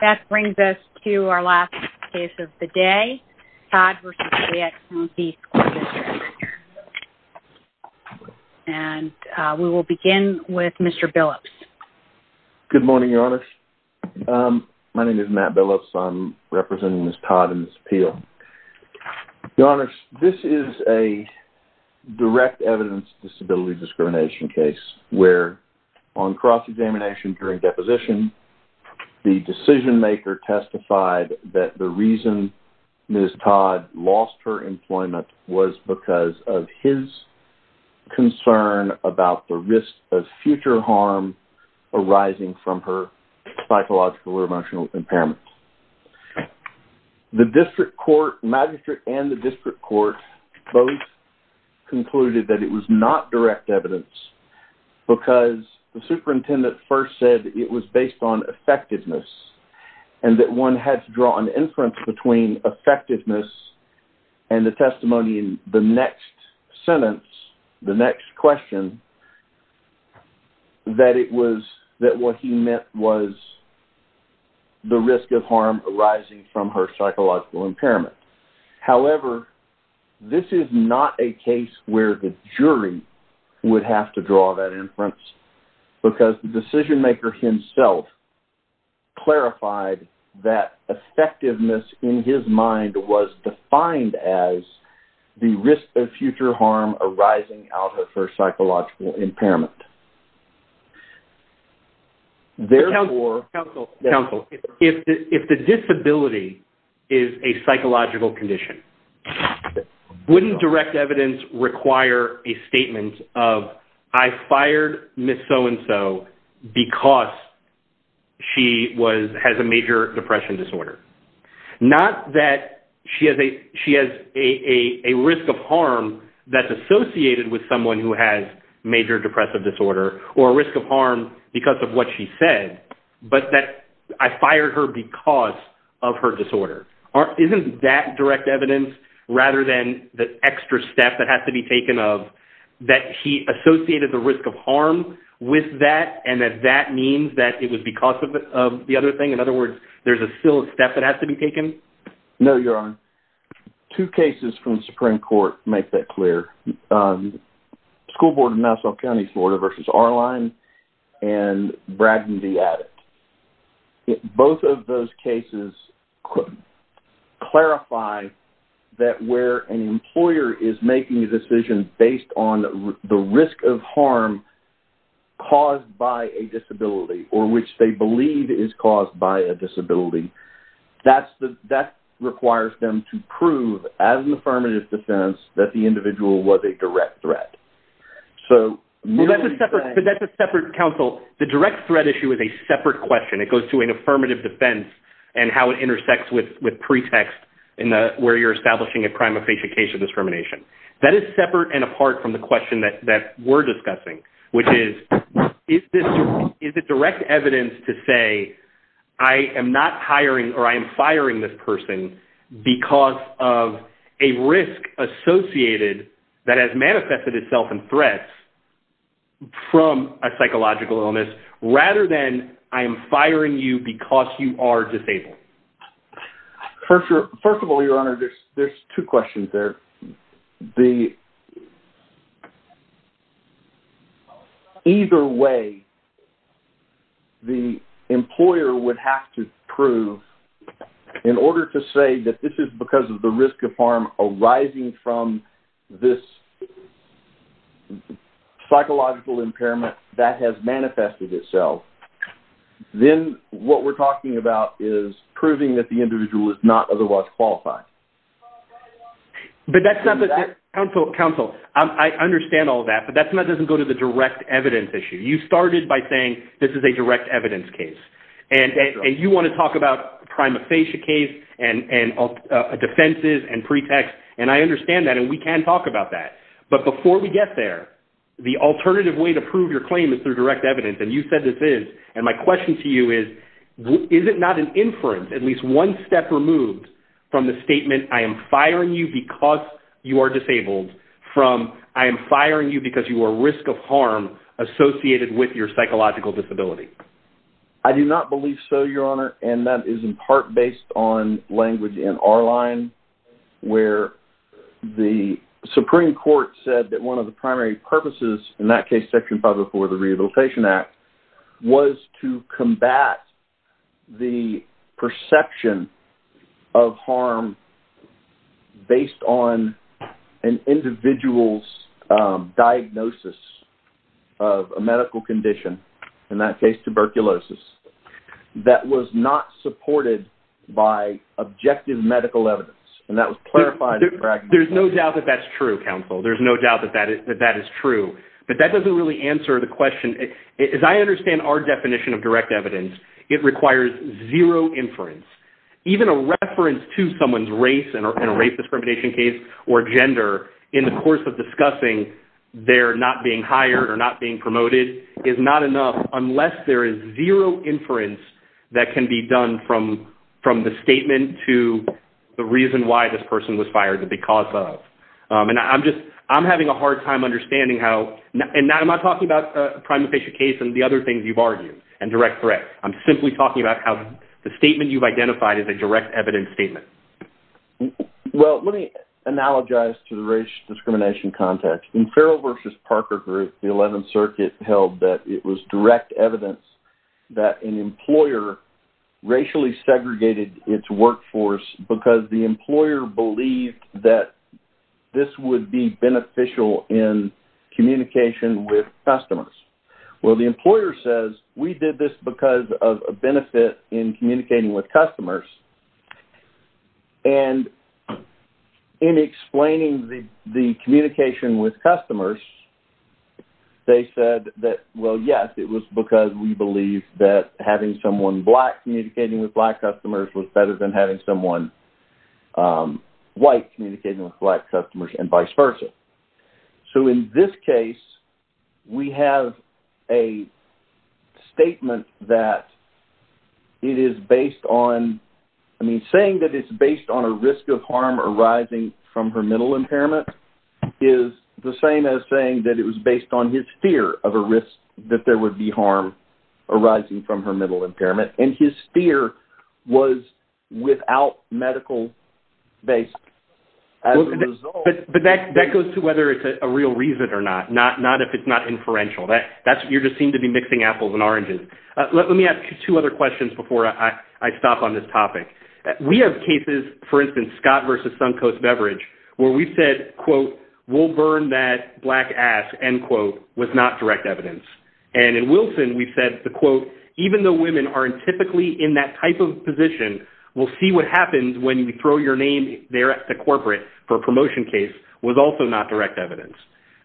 That brings us to our last case of the day, Todd v. Fayette County School District, and we will begin with Mr. Billups. Good morning, Your Honors. My name is Matt Billups. I'm representing Ms. Todd and Ms. Peel. Your Honors, this is a direct evidence disability discrimination case where on cross-examination during deposition, the decision-maker testified that the reason Ms. Todd lost her employment was because of his concern about the risk of future harm arising from her psychological or emotional impairment. The district court magistrate and the district court both concluded that it was not direct evidence because the superintendent first said it was based on effectiveness and that one had to draw an inference between effectiveness and the testimony in the next sentence, the next question, that it was that what he meant was the risk of harm arising from her psychological impairment. However, this is not a case where the jury would have to draw that inference because the decision-maker himself clarified that effectiveness in his mind was defined as the risk of future harm arising out of her psychological impairment. Counsel, if the disability is a psychological condition, wouldn't direct evidence require a statement of, I fired Ms. so-and-so because she has a major depression disorder? Not that she has a risk of harm that's associated with someone who has major depressive disorder or a risk of harm because of what she said, but that I fired her because of her disorder. Isn't that direct evidence rather than the extra step that has to be taken of that he associated the risk of harm with that and that that means that it was because of the other thing? In other words, there's a still step that has to be taken? No, Your Honor. Two cases from the Supreme Court make that clear. School Board of Nassau County, Florida versus R-Line and Braddon v. Addict. Both of those cases could clarify that where an employer is making a decision based on the risk of harm caused by a disability or which they believe is caused by a disability, that requires them to prove as an affirmative defense that the individual was a direct threat. So that's a separate counsel. The direct threat issue is a separate question. It goes to an affirmative defense and how it intersects with pretext where you're establishing a prima facie case of discrimination. That is separate and apart from the question that we're discussing, which is, is it direct evidence to say I am not hiring or I am firing this person because of a risk associated that has manifested itself in threats from a psychological illness rather than I am you are disabled? First of all, Your Honor, there's two questions there. Either way, the employer would have to prove in order to say that this is because of the risk of harm arising from this psychological impairment that has proving that the individual is not otherwise qualified. But that's not the... Counsel, I understand all that, but that doesn't go to the direct evidence issue. You started by saying this is a direct evidence case and you want to talk about prima facie case and defenses and pretexts and I understand that and we can talk about that. But before we get there, the alternative way to prove your claim is through direct evidence and you said this is and my question to you is, is it not an inference at least one step removed from the statement I am firing you because you are disabled from I am firing you because you are risk of harm associated with your psychological disability? I do not believe so, Your Honor, and that is in part based on language in our line where the Supreme Court said that one of the primary purposes in that case section 504 the Rehabilitation Act was to combat the perception of harm based on an individual's diagnosis of a medical condition, in that case tuberculosis, that was not supported by objective medical evidence and that was clarified... There's no doubt that that's true, counsel, there's no doubt that that is true, but that doesn't really answer the question. As I understand our definition of direct evidence, it requires zero inference. Even a reference to someone's race and a race discrimination case or gender in the course of discussing their not being hired or not being promoted is not enough unless there is zero inference that can be done from from the statement to the reason why this person was fired or because of and I'm just I'm having a hard time understanding how and not am I talking about a primate patient case and the other things you've argued and direct threat, I'm simply talking about how the statement you've identified is a direct evidence statement. Well let me analogize to the race discrimination context. In Farrell versus Parker group, the 11th Circuit held that it was direct evidence that an employer racially segregated its workforce because the employer believed that this would be beneficial in communication with customers. Well the employer says we did this because of a benefit in communicating with customers and in explaining the the communication with customers they said that well yes it was because we believe that having someone black communicating with black customers and vice versa. So in this case we have a statement that it is based on I mean saying that it's based on a risk of harm arising from her mental impairment is the same as saying that it was based on his fear of a risk that there would be harm arising from her mental impairment and his fear was without medical basis. But that goes to whether it's a real reason or not not not if it's not inferential that that's what you're just seem to be mixing apples and oranges. Let me ask you two other questions before I stop on this topic. We have cases for instance Scott versus Suncoast beverage where we said quote we'll burn that black ass end quote was not direct evidence and in Wilson we've said the quote even though women aren't typically in that type of position we'll see what happens when you throw your name there at the corporate for a promotion case was also not direct evidence.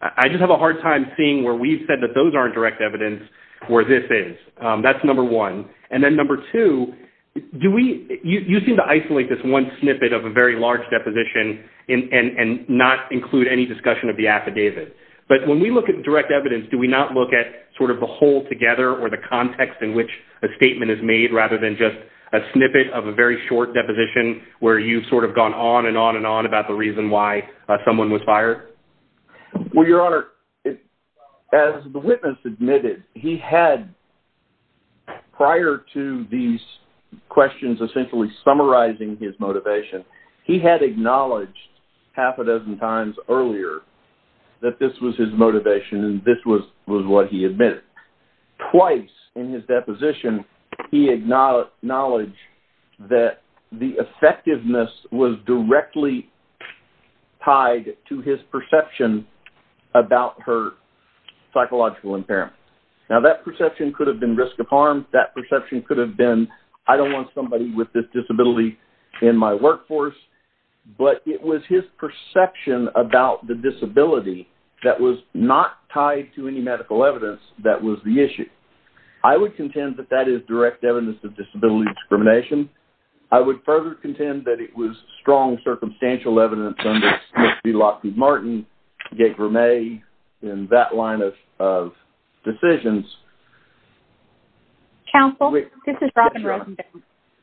I just have a hard time seeing where we've said that those aren't direct evidence where this is. That's number one and then number two do we you seem to isolate this one snippet of a very large deposition and not include any discussion of the affidavit but when we look at direct evidence do we not look at sort of the whole together or the context in which a statement is made rather than just a snippet of a very short deposition where you've sort of gone on and on and on about the reason why someone was fired? Well your honor as the witness admitted he had prior to these questions essentially summarizing his motivation he had acknowledged half a dozen times earlier that this was his motivation and this was what he admitted. Twice in his deposition he acknowledged that the effectiveness was directly tied to his perception about her psychological impairment. Now that perception could have been risk of harm that perception could have been I don't want somebody with this disability in my workforce but it was his perception about the disability that was not tied to any medical evidence that was the issue. I would contend that that is direct evidence of disability discrimination. I would further contend that it was strong circumstantial evidence under Smith v Lockwood Martin, Gabe Vermeer and that line of decisions. Counsel this is Robin Rosenberg.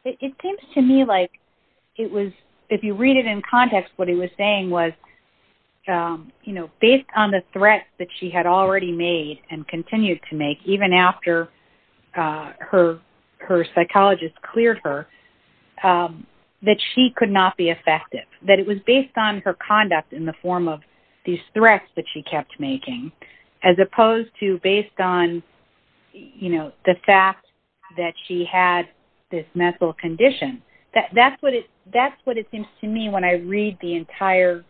It seems to me like it was if you read it in context what he was saying was you know based on the threats that she had already made and continued to make even after her her psychologist cleared her that she could not be effective. That it was based on her conduct in the form of these threats that she kept making as opposed to based on you know the fact that she had this mental condition that that's what it that's what it seems to me when I read the entire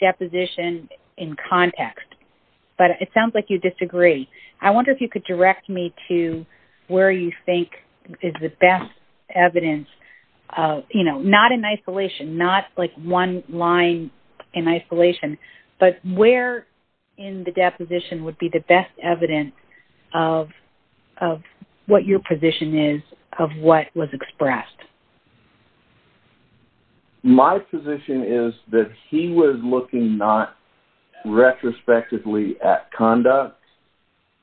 deposition in context but it sounds like you disagree. I wonder if you could direct me to where you think is the best evidence you know not in isolation not like one line in isolation but where in the deposition would be the best evidence of of what your position is of what was expressed. My position is that he was looking not retrospectively at conduct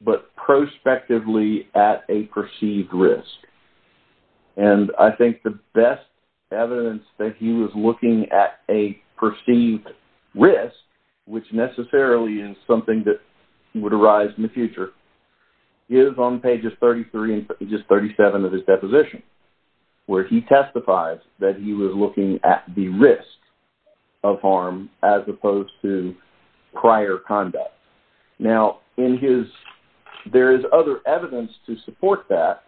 but prospectively at a perceived risk and I think the best evidence that he was looking at a perceived risk which necessarily is something that would rise in the future is on pages 33 and just 37 of his deposition where he testifies that he was looking at the risk of harm as opposed to prior conduct. Now in his there is other evidence to support that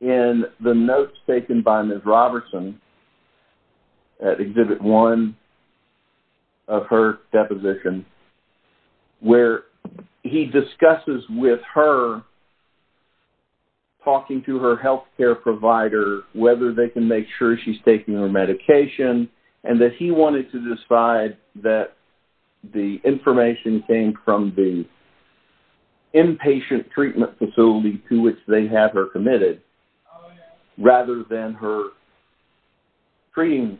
in the notes taken by Ms. Robertson at Exhibit 1 of her deposition where he discusses with her talking to her health care provider whether they can make sure she's taking her medication and that he wanted to decide that the information came from the inpatient treatment facility to which they have her committed rather than her treating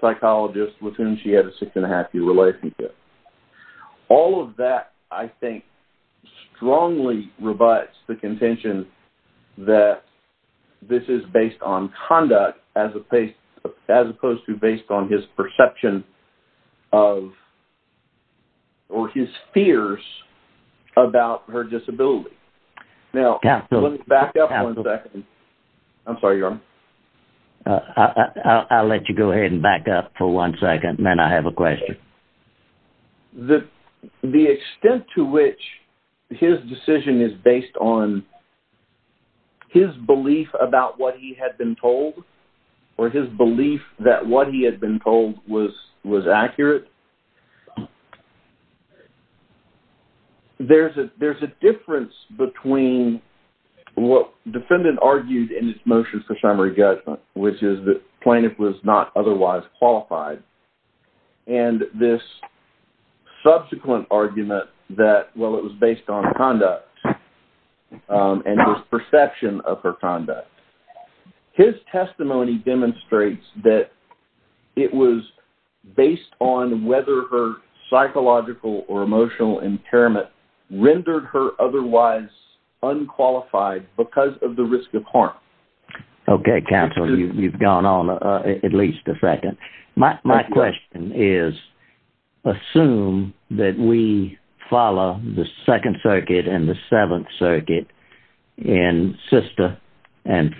psychologist with whom she had a six and a half year relationship. All of that I think strongly rebuts the contention that this is based on conduct as a face as opposed to based on his perception of or his fears about her disability. Now back up one second. I'm sorry. I'll let you go ahead and back up for one second and then I have a question. The extent to which his decision is based on his belief about what he had been told or his belief that what he had been told was was accurate. There's a difference between what defendant argued in his motion for summary judgment which is that plaintiff was not otherwise qualified and this subsequent argument that well it was based on conduct and his perception of her conduct. His testimony demonstrates that it was based on whether her psychological or emotional impairment rendered her otherwise unqualified because of the risk of harm. Okay counsel you've gone on at least a second. My question is assume that we follow the Second Circuit and the Seventh Circuit in Sister and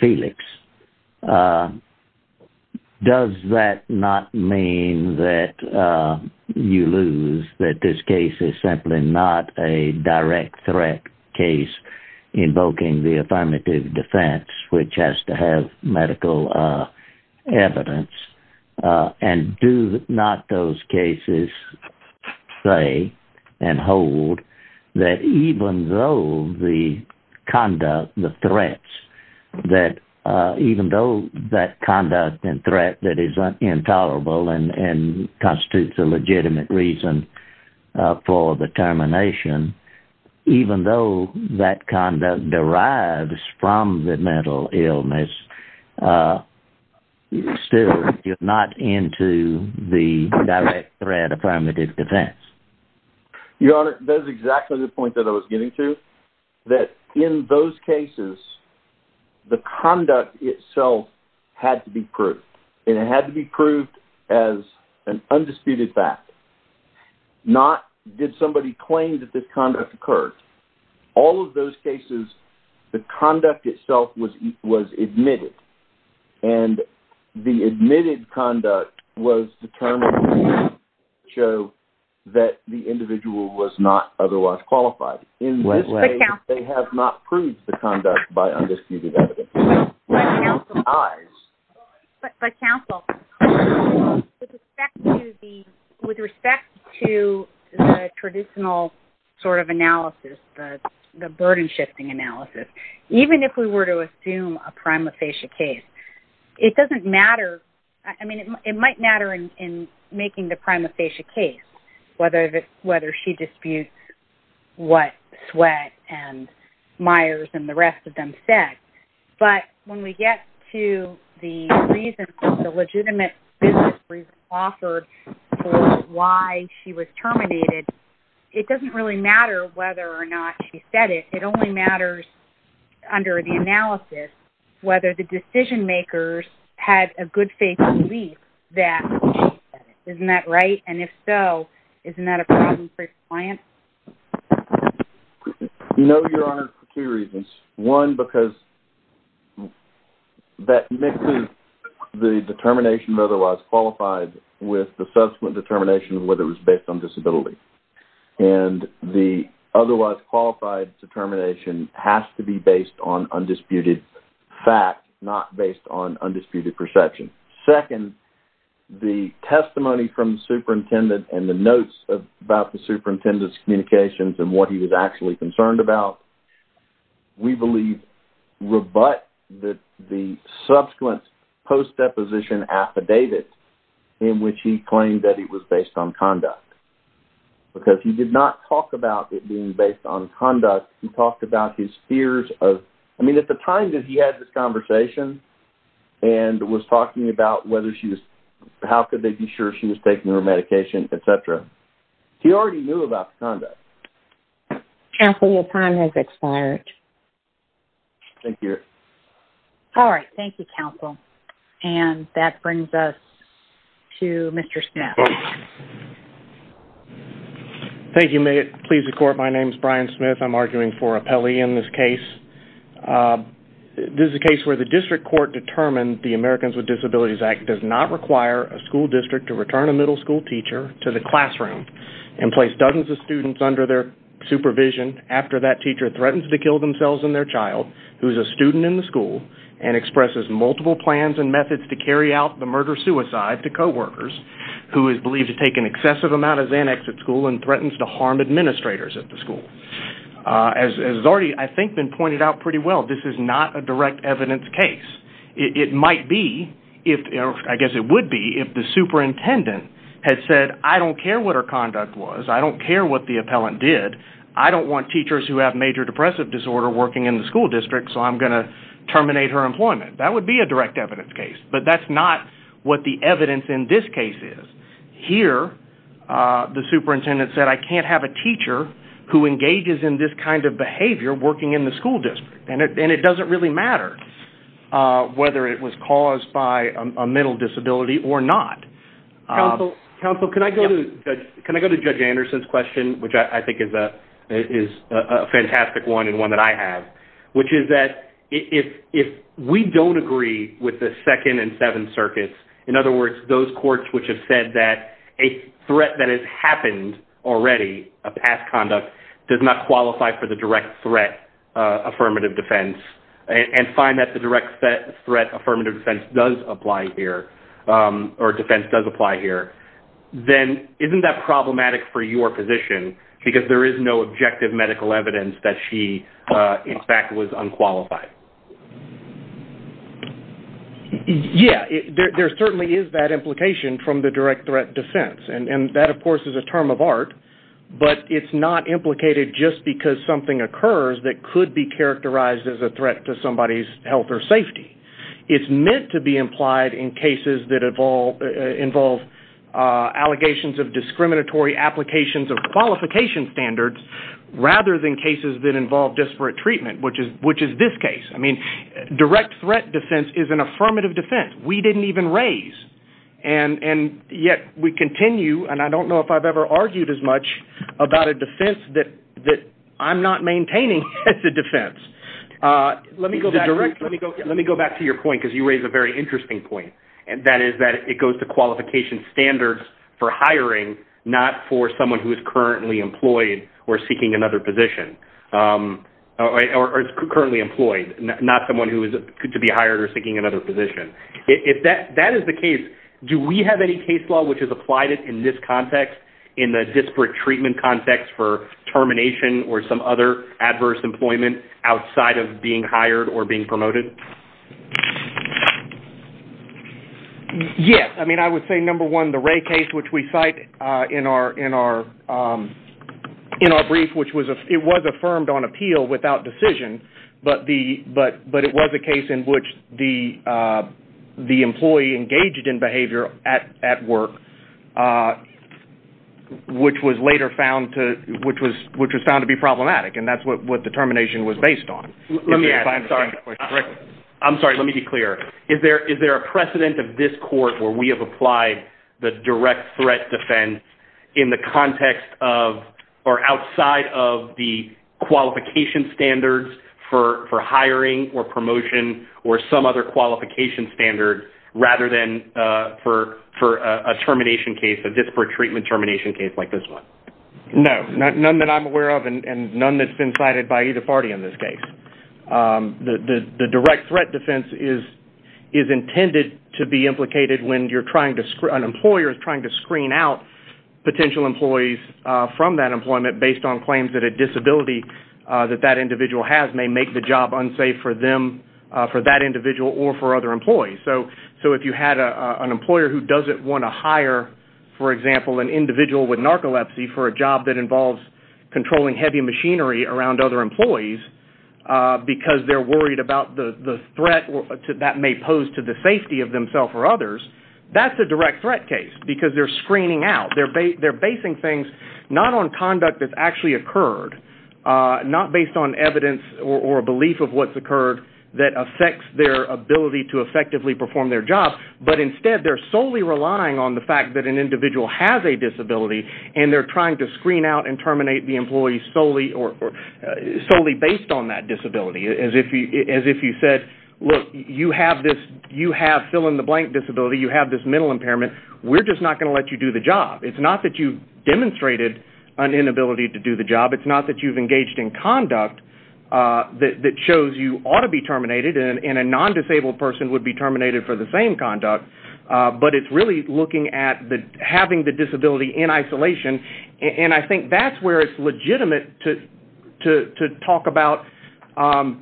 does that not mean that you lose that this case is simply not a direct threat case invoking the affirmative defense which has to have medical evidence and do not those cases say and hold that even though the conduct the threats that even though that conduct and threat that is intolerable and constitutes a legitimate reason for the termination even though that conduct derives from the mental illness still you're not into the direct threat affirmative defense. Your Honor that is exactly the point that I was getting to that in those cases the conduct itself had to be proved and it had to be proved as an undisputed fact not did somebody claim that this conduct occurred all of those cases the conduct itself was was admitted and the admitted conduct was determined to show that the individual was not otherwise qualified in this way they have not proved the conduct by undisputed evidence. But counsel, with respect to the traditional sort of analysis the burden shifting analysis even if we were to assume a prima facie case it doesn't matter I mean it might matter in making the prima facie case whether it whether she disputes what Sweatt and Myers and the rest of them said but when we get to the reason the legitimate business offered why she was terminated it doesn't really matter whether or not she said it it only matters under the analysis whether the decision-makers had a good faith belief that isn't that right and if so isn't that a problem for your client? No, Your Honor, for two reasons. One because that mixes the determination of otherwise qualified with the subsequent determination whether it was based on disability and the otherwise qualified determination has to be based on undisputed fact not based on undisputed perception. Second, the superintendent and the notes about the superintendent's communications and what he was actually concerned about we believe rebut that the subsequent post deposition affidavit in which he claimed that it was based on conduct because he did not talk about it being based on conduct he talked about his fears of I mean at the time that he had this conversation and was talking about whether she was how could they be sure she was taking her medication etc he already knew about conduct. Counsel your time has expired. Thank you. All right thank you counsel and that brings us to Mr. Smith. Thank you may it please the court my name is Brian Smith I'm arguing for appellee in this case this is a case where the district court determined the Americans with Disabilities Act does not require a school district to return a middle school teacher to the classroom and place dozens of students under their supervision after that teacher threatened to kill themselves and their child who is a student in the school and expresses multiple plans and methods to carry out the murder-suicide to co-workers who is believed to take an excessive amount of annex at school and threatens to harm administrators at the school. As has already I think been the case it might be if I guess it would be if the superintendent had said I don't care what her conduct was I don't care what the appellant did I don't want teachers who have major depressive disorder working in the school district so I'm going to terminate her employment that would be a direct evidence case but that's not what the evidence in this case is. Here the superintendent said I can't have a teacher who engages in this kind of whether it was caused by a mental disability or not. Counsel can I go to can I go to Judge Anderson's question which I think is a fantastic one and one that I have which is that if we don't agree with the second and seventh circuits in other words those courts which have said that a threat that has happened already a past conduct does not qualify for the direct threat affirmative defense and find that the direct threat affirmative defense does apply here or defense does apply here then isn't that problematic for your position because there is no objective medical evidence that she in fact was unqualified. Yeah there certainly is that implication from the direct threat defense and and that of course is a term of art but it's not implicated just because something occurs that could be characterized as a threat to somebody's health or safety. It's meant to be implied in cases that evolve involve allegations of discriminatory applications of qualification standards rather than cases that involve disparate treatment which is which is this case I mean direct threat defense is an affirmative defense we didn't even raise and and yet we continue and I don't know if I've ever argued as much about a defense that that I'm not maintaining as a defense. Let me go back let me go let me go back to your point because you raise a very interesting point and that is that it goes to qualification standards for hiring not for someone who is currently employed or seeking another position or currently employed not someone who is good to be hired or seeking another position. If that that is the case do we have any case law which has applied it in this context in the disparate treatment context for termination or some other adverse employment outside of being hired or being promoted? Yes I mean I would say number one the Ray case which we cite in our in our in our brief which was a it was affirmed on appeal without decision but the but but it was a case in which the the employee engaged in behavior at at work which was later found to which was which was found to be problematic and that's what what the termination was based on. I'm sorry let me be clear is there is there a precedent of this court where we have applied the direct threat defense in the context of or outside of the qualification standards for for hiring or promotion or some other qualification standard rather than for for a termination case a disparate treatment termination case like this one? No not none that I'm aware of and none that's been cited by either party in this case. The the direct threat defense is is intended to be implicated when you're trying to an employer is trying to screen out potential employees from that employment based on claims that it is a disability that that individual has may make the job unsafe for them for that individual or for other employees so so if you had a an employer who doesn't want to hire for example an individual with narcolepsy for a job that involves controlling heavy machinery around other employees because they're worried about the the threat that may pose to the safety of themselves or others that's a direct threat case because they're screening out they're basing things not on conduct that's actually occurred not based on evidence or a belief of what's occurred that affects their ability to effectively perform their job but instead they're solely relying on the fact that an individual has a disability and they're trying to screen out and terminate the employees solely or solely based on that disability as if you as if you said look you have this you have fill-in-the-blank disability you have this mental impairment we're just not going to let you do the job it's not that you demonstrated an inability to do the job it's not that you've engaged in conduct that shows you ought to be terminated and in a non-disabled person would be terminated for the same conduct but it's really looking at the having the disability in isolation and I think that's where it's legitimate to to talk about the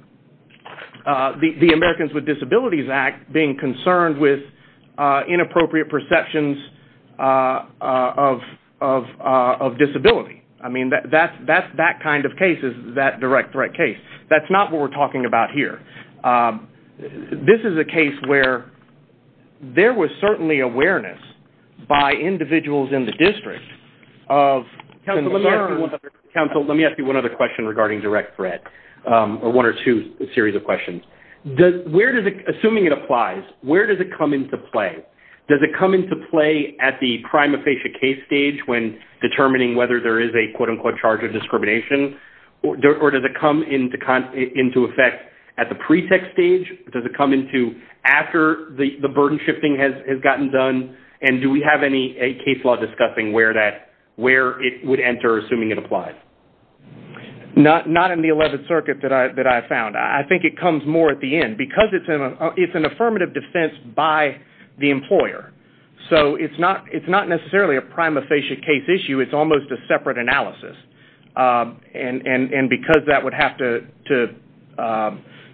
Americans with Disabilities Act being concerned with inappropriate perceptions of disability I mean that that's that's that kind of case is that direct threat case that's not what we're talking about here this is a case where there was certainly awareness by individuals in the district of council let me ask you one other question regarding direct threat or one or two a series of questions does where does it assuming it applies where does it come into play does it come into play at the prima facie case stage when determining whether there is a quote-unquote charge of discrimination or does it come into kind into effect at the pretext stage does it come into after the the burden shifting has gotten done and do we have any a case law discussing where that where it would enter assuming it applies not not in the 11th Circuit that I that I found I think it comes more at the end because it's an affirmative defense by the employer so it's not it's not necessarily a prima facie case issue it's almost a separate analysis and and and because that would have to to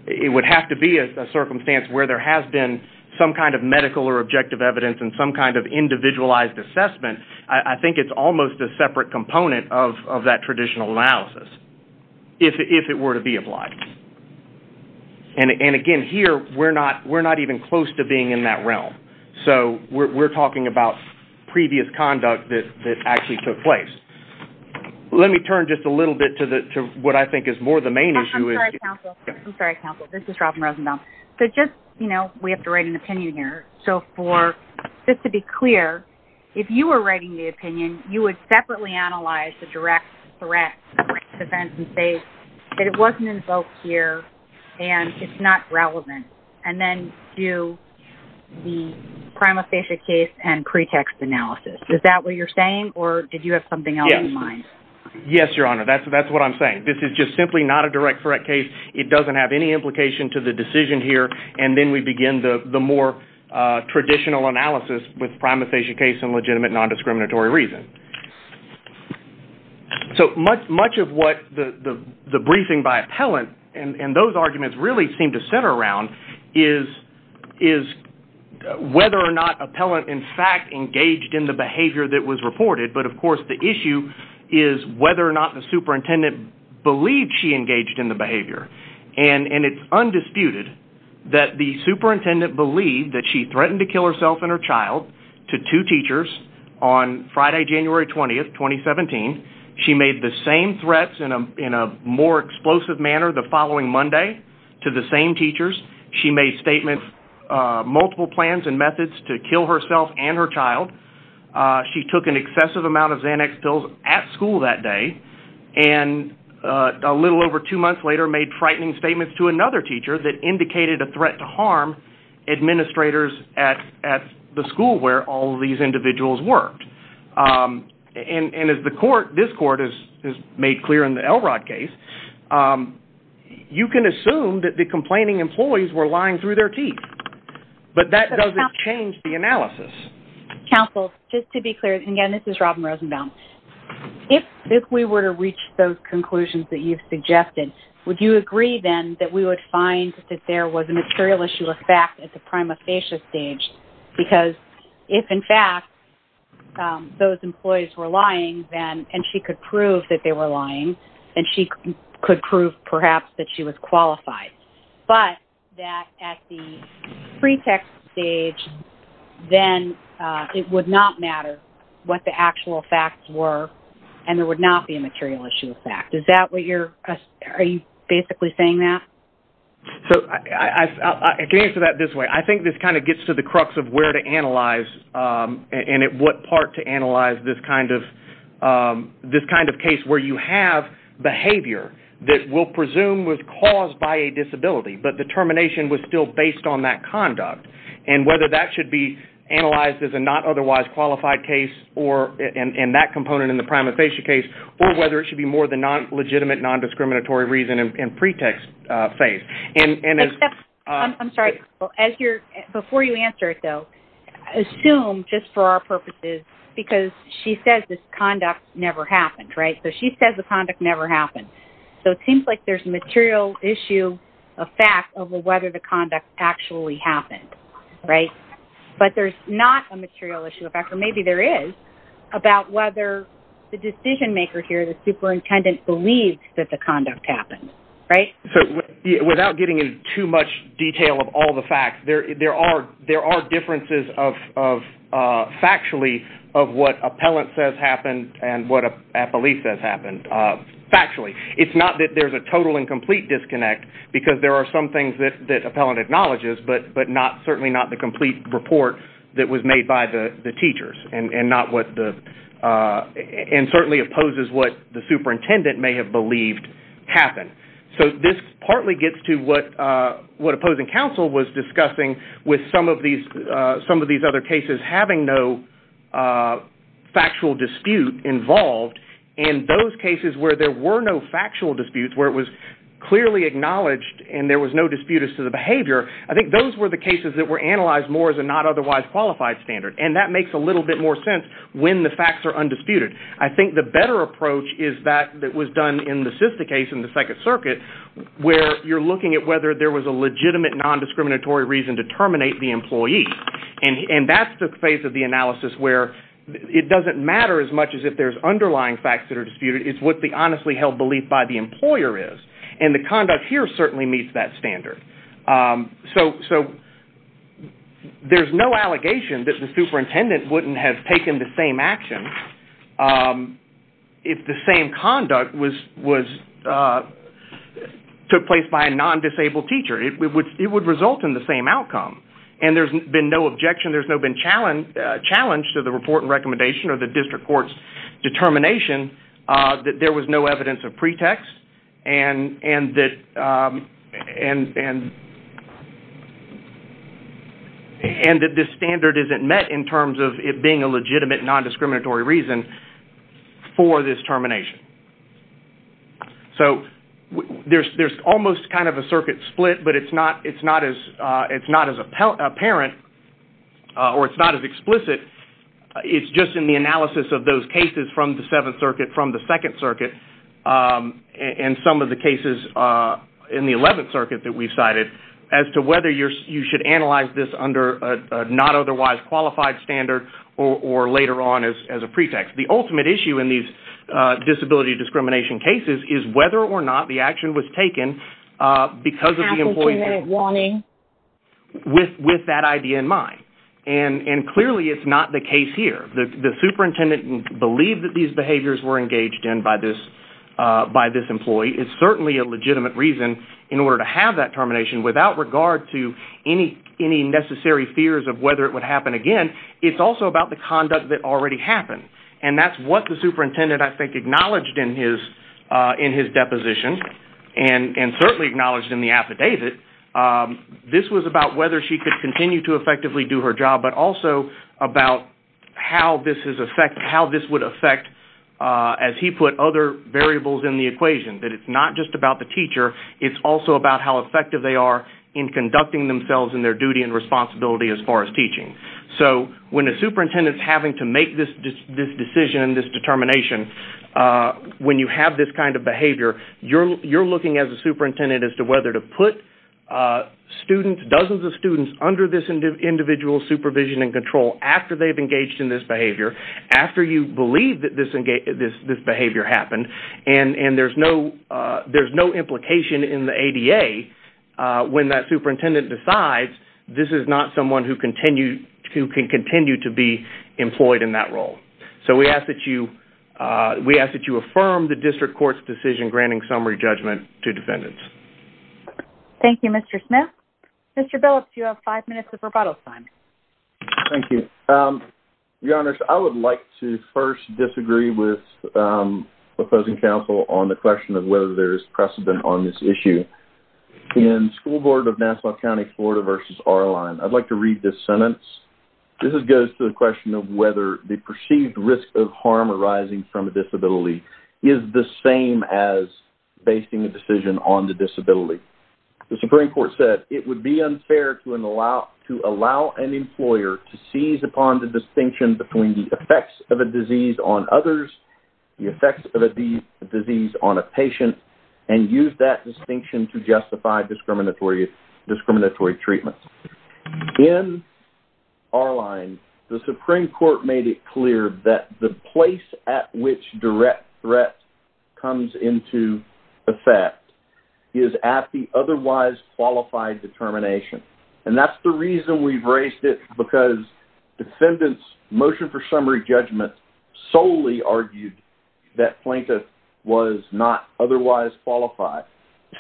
it would have to be a circumstance where there has been some kind of medical or objective evidence and some kind of individualized assessment I think it's almost a separate component of that traditional analysis if it were to be applied and again here we're not we're not even close to being in that realm so we're talking about previous conduct that actually took place let me turn just a little bit to the to what I think is more the main issue is this is Robin Rosenthal so just you know we have to write an opinion here so for this to be clear if you were writing the opinion you would separately analyze the direct threat defense and say that it wasn't invoked here and it's not relevant and then do the prima facie case and pretext analysis is that what you're saying or did you have something else in mind yes your honor that's that's what I'm saying this is just simply not a direct threat case it doesn't have any implication to the decision here and then we begin the the more traditional analysis with prima facie case and legitimate non-discriminatory reason so much much of what the the briefing by appellant and and those arguments really seem to center around is is whether or not appellant in fact engaged in the behavior that was reported but of course the issue is whether or not the superintendent believed she engaged in the behavior and and it's undisputed that the superintendent believed that she threatened to kill herself and her child to two teachers on Friday January 20th 2017 she made the same threats in a in a more explosive manner the following Monday to the same teachers she made statements multiple plans and methods to kill herself and her child she took an excessive amount of Xanax pills at school that day and a little over two months later made frightening statements to another teacher that indicated a threat to harm administrators at at the school where all these individuals worked and and as the court this court is made clear in the Elrod case you can assume that the complaining employees were lying through their teeth but that doesn't change the analysis counsel just to be clear again this is Robin Rosenbaum if if we were to reach those that you've suggested would you agree then that we would find that there was a material issue of fact at the prima facie stage because if in fact those employees were lying then and she could prove that they were lying and she could prove perhaps that she was qualified but that at the pretext stage then it would not matter what the actual facts were and there would not be a material issue is that what you're basically saying that so I can answer that this way I think this kind of gets to the crux of where to analyze and at what part to analyze this kind of this kind of case where you have behavior that will presume was caused by a disability but the termination was still based on that conduct and whether that should be analyzed as a not otherwise qualified case or in that component in the prima facie case or whether it should be more the non-legitimate non-discriminatory reason and pretext phase and I'm sorry well as your before you answer it though assume just for our purposes because she says this conduct never happened right so she says the conduct never happened so it seems like there's a material issue of fact over whether the conduct actually happened right but there's not a material issue effect or maybe there is about whether the decision-maker here the superintendent believes that the conduct happened right so without getting in too much detail of all the facts there there are there are differences of factually of what appellant says happened and what a belief that happened factually it's not that there's a total and complete disconnect because there are some things that that appellant acknowledges but but not certainly not the complete report that was made by the the teachers and and not what the and certainly opposes what the superintendent may have believed happened so this partly gets to what what opposing counsel was discussing with some of these some of these other cases having no factual dispute involved in those cases where there were no factual disputes where it was clearly acknowledged and there was no disputed to the behavior I think those were the cases that were analyzed more than not otherwise qualified standard and that makes a little bit more sense when the facts are undisputed I think the better approach is that that was done in the system case in the Second Circuit where you're looking at whether there was a legitimate non-discriminatory reason to terminate the employee and and that's the face of the analysis where it doesn't matter as much as if there's underlying facts that are disputed it's what the honestly held belief by the employer is and the conduct here certainly meets that standard so so there's no allegation that the superintendent wouldn't have taken the same action if the same conduct was was took place by a non-disabled teacher it would it would result in the same outcome and there's been no objection there's no been challenge challenge to the report and recommendation or the district courts determination that there was no evidence of pretext and and that and and and that this standard isn't met in terms of it being a legitimate non-discriminatory reason for this termination so there's there's almost kind of a circuit split but it's not it's not as it's not as a parent or it's not as explicit it's just in the analysis of those cases from the in some of the cases in the 11th circuit that we cited as to whether you're you should analyze this under not otherwise qualified standard or later on as a pretext the ultimate issue in these disability discrimination cases is whether or not the action was taken because of the employment warning with with that idea in mind and and clearly it's not the case here the superintendent believed that these behaviors were engaged in by this by this employee it's certainly a legitimate reason in order to have that termination without regard to any any necessary fears of whether it would happen again it's also about the conduct that already happened and that's what the superintendent I think acknowledged in his in his deposition and and certainly acknowledged in the affidavit this was about whether she could to effectively do her job but also about how this is effect how this would affect as he put other variables in the equation that it's not just about the teacher it's also about how effective they are in conducting themselves in their duty and responsibility as far as teaching so when a superintendent having to make this this decision this determination when you have this kind of behavior you're you're looking at the superintendent as to whether to put students dozens of students under this individual supervision and control after they've engaged in this behavior after you believe that this engage this this behavior happened and and there's no there's no implication in the ADA when that superintendent decides this is not someone who continue to can continue to be employed in that role so we ask that you we ask that you affirm the district court's decision granting summary judgment to defendants thank you mr. Smith mr. bill if you have five minutes of rebuttal time thank you your honor I would like to first disagree with opposing counsel on the question of whether there is precedent on this issue in school board of Nassau County Florida versus our line I'd like to read this sentence this goes to the question of the perceived risk of harm arising from a disability is the same as basing a decision on the disability the Supreme Court said it would be unfair to an allow to allow an employer to seize upon the distinction between the effects of a disease on others the effects of a disease on a patient and use that distinction to justify discriminatory discriminatory treatments in our line the Supreme Court made it clear that the place at which direct threat comes into effect is at the otherwise qualified determination and that's the reason we've raised it because defendants motion for summary judgment solely argued that plaintiff was not otherwise qualified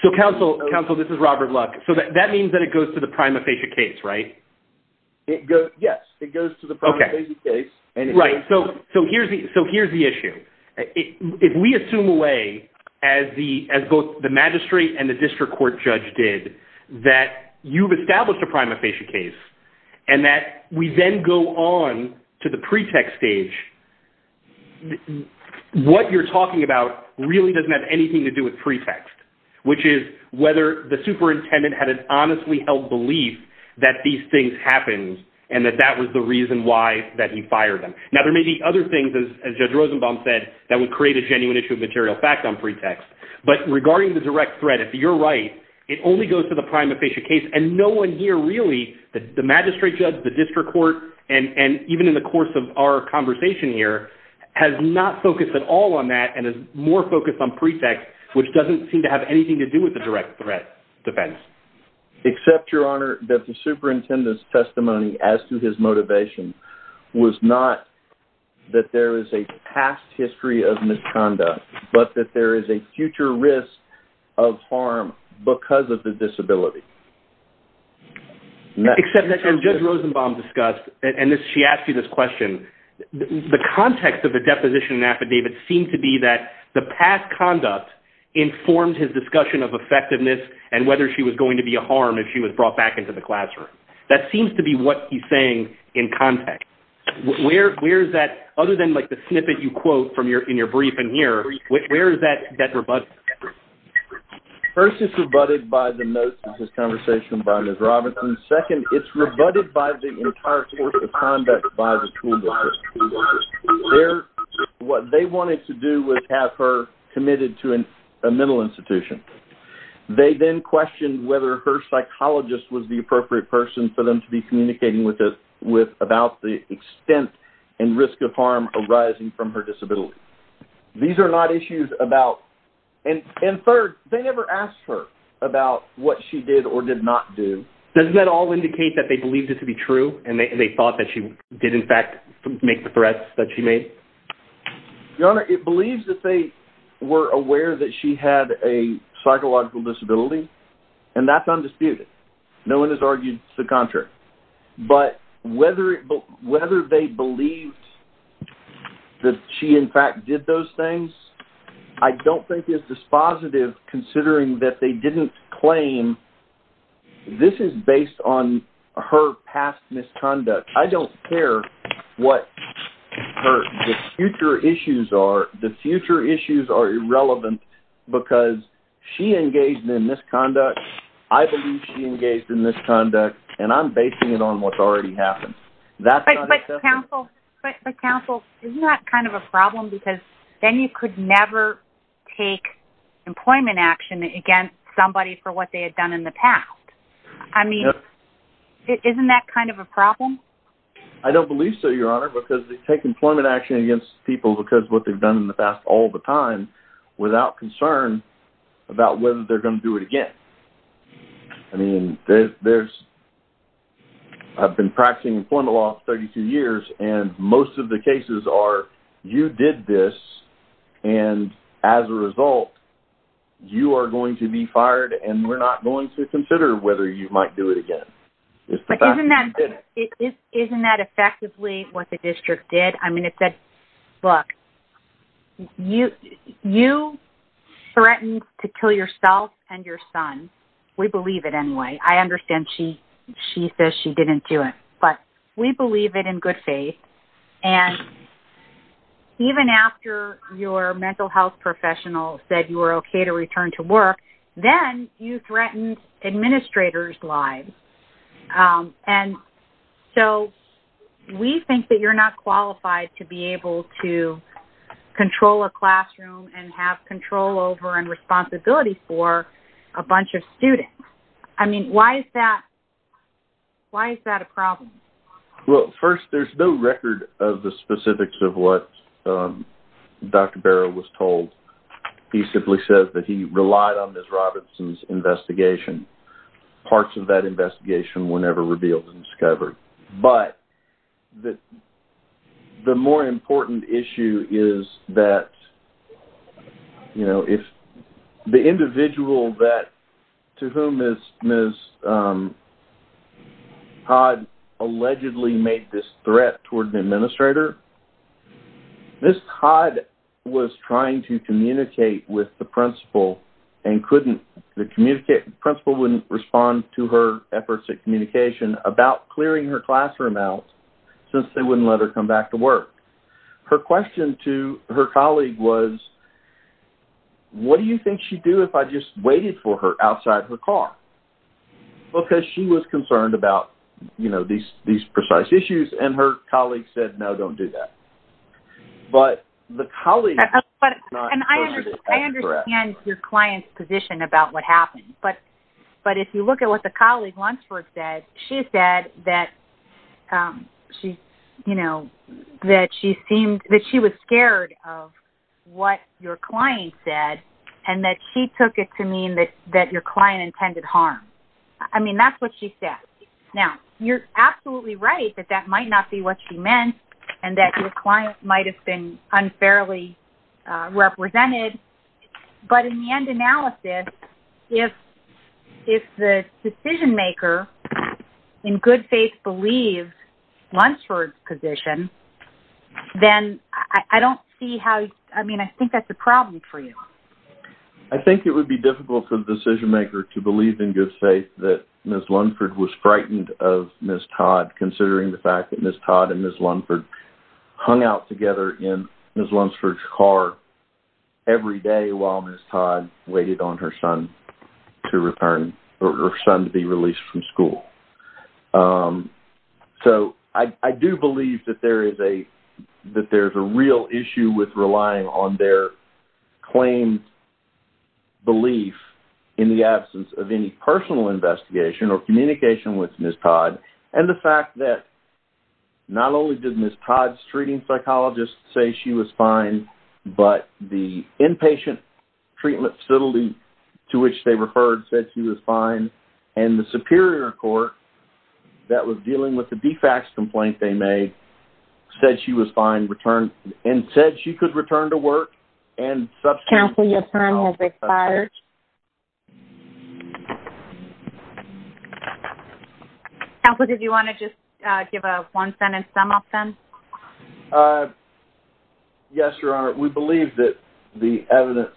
so counsel counsel this is Robert Luck so that means that it goes to the prima facie case right it yes it goes to the property case and right so so here's the so here's the issue if we assume away as the as both the magistrate and the district court judge did that you've established a prima facie case and that we then go on to the pretext stage what you're talking about really doesn't have anything to do with pretext which is whether the superintendent had an honestly held belief that these things happen and that that was the reason why that he fired him now there may be other things as judge Rosenbaum said that would create a genuine issue of material fact on pretext but regarding the direct threat if you're right it only goes to the prime official case and no one here really the magistrate judge the district court and and even in the course of our conversation here has not focused at all on that and is more focused on pretext which doesn't seem to have anything to do with the direct threat defense except your honor that the superintendent's testimony as to his motivation was not that there is a past history of misconduct but that there is a future risk of harm because of the disability except that can judge Rosenbaum discussed and this she asked you this question the context of the deposition affidavit seemed to be that the past conduct informed his discussion of brought back into the classroom that seems to be what he's saying in context where where is that other than like the snippet you quote from your in your briefing here which where is that that rebut first is rebutted by the most of this conversation by Ms. Robinson second it's rebutted by the entire course of conduct by the school what they wanted to do was have her committed to an institution they then questioned whether her psychologist was the appropriate person for them to be communicating with this with about the extent and risk of harm arising from her disability these are not issues about and and third they never asked her about what she did or did not do does that all indicate that they believed it to be true and they thought that she did in fact make the threats that she made your honor it believes that they were aware that she had a psychological disability and that's undisputed no one has argued the contrary but whether it whether they believed that she in fact did those things I don't think it's dispositive considering that they didn't claim this is based on her past misconduct I don't care what her future issues are the because she engaged in misconduct I believe she engaged in misconduct and I'm basing it on what's already happened that's not a council but the council is not kind of a problem because then you could never take employment action against somebody for what they had done in the past I mean isn't that kind of a problem I don't believe so your honor because they take employment action against people because what they've done in the past all the time without concern about whether they're going to do it again I mean there's I've been practicing employment law 32 years and most of the cases are you did this and as a result you are going to be fired and we're not going to consider whether you might do it again isn't that effectively what the district did I mean it said look you you threatened to kill yourself and your son we believe it anyway I understand she she says she didn't do it but we believe it in good faith and even after your mental health professional said you were okay to return to work then you threatened administrators lives and so we think that you're not qualified to be able to control a classroom and have control over and responsibility for a bunch of students I mean why is that why is that a problem well first there's no record of the specifics of what dr. Barrow was told he simply says that he relied on this Robertson's investigation parts of that investigation whenever revealed and but that the more important issue is that you know if the individual that to whom is miss Todd allegedly made this threat toward the administrator this Todd was trying to communicate with the principal and couldn't the communicate principal wouldn't respond to her efforts at communication about clearing her classroom out since they wouldn't let her come back to work her question to her colleague was what do you think she'd do if I just waited for her outside her car because she was concerned about you know these these precise issues and her colleague said no don't do that but the colleague and your client's position about what happened but but if you look at what the colleague wants for said she said that she you know that she seemed that she was scared of what your client said and that she took it to mean that that your client intended harm I mean that's what she said now you're absolutely right that that might not be what she meant and that your client might have been fairly represented but in the end analysis if if the decision-maker in good faith believe once for position then I don't see how I mean I think that's a problem for you I think it would be difficult for the decision maker to believe in good faith that miss Lundford was frightened of miss Todd considering the fact that miss Todd and miss Lundford hung out together in miss Lunsford's car every day while miss Todd waited on her son to return her son to be released from school so I do believe that there is a that there's a real issue with relying on their claim belief in the absence of any personal investigation or communication with miss Todd and the fact that not only did miss Todd's treating psychologists say she was fine but the inpatient treatment facility to which they referred said she was fine and the Superior Court that was dealing with the defects complaint they made said she was fine returned and said she could return to work and such counsel your time has expired. Counselor did you want to just give a one sentence sum up then? Yes your honor we believe that the evidence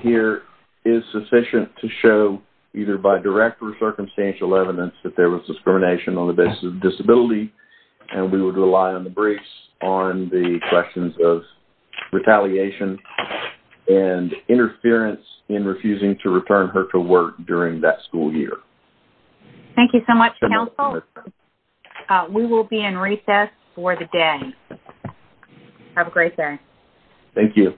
here is sufficient to show either by direct or circumstantial evidence that there was discrimination on the basis of disability and we would rely on the briefs on the questions of retaliation and interference in refusing to return her to work during that school year. Thank you so much counsel. We will be in recess for the day. Have a great day. Thank you.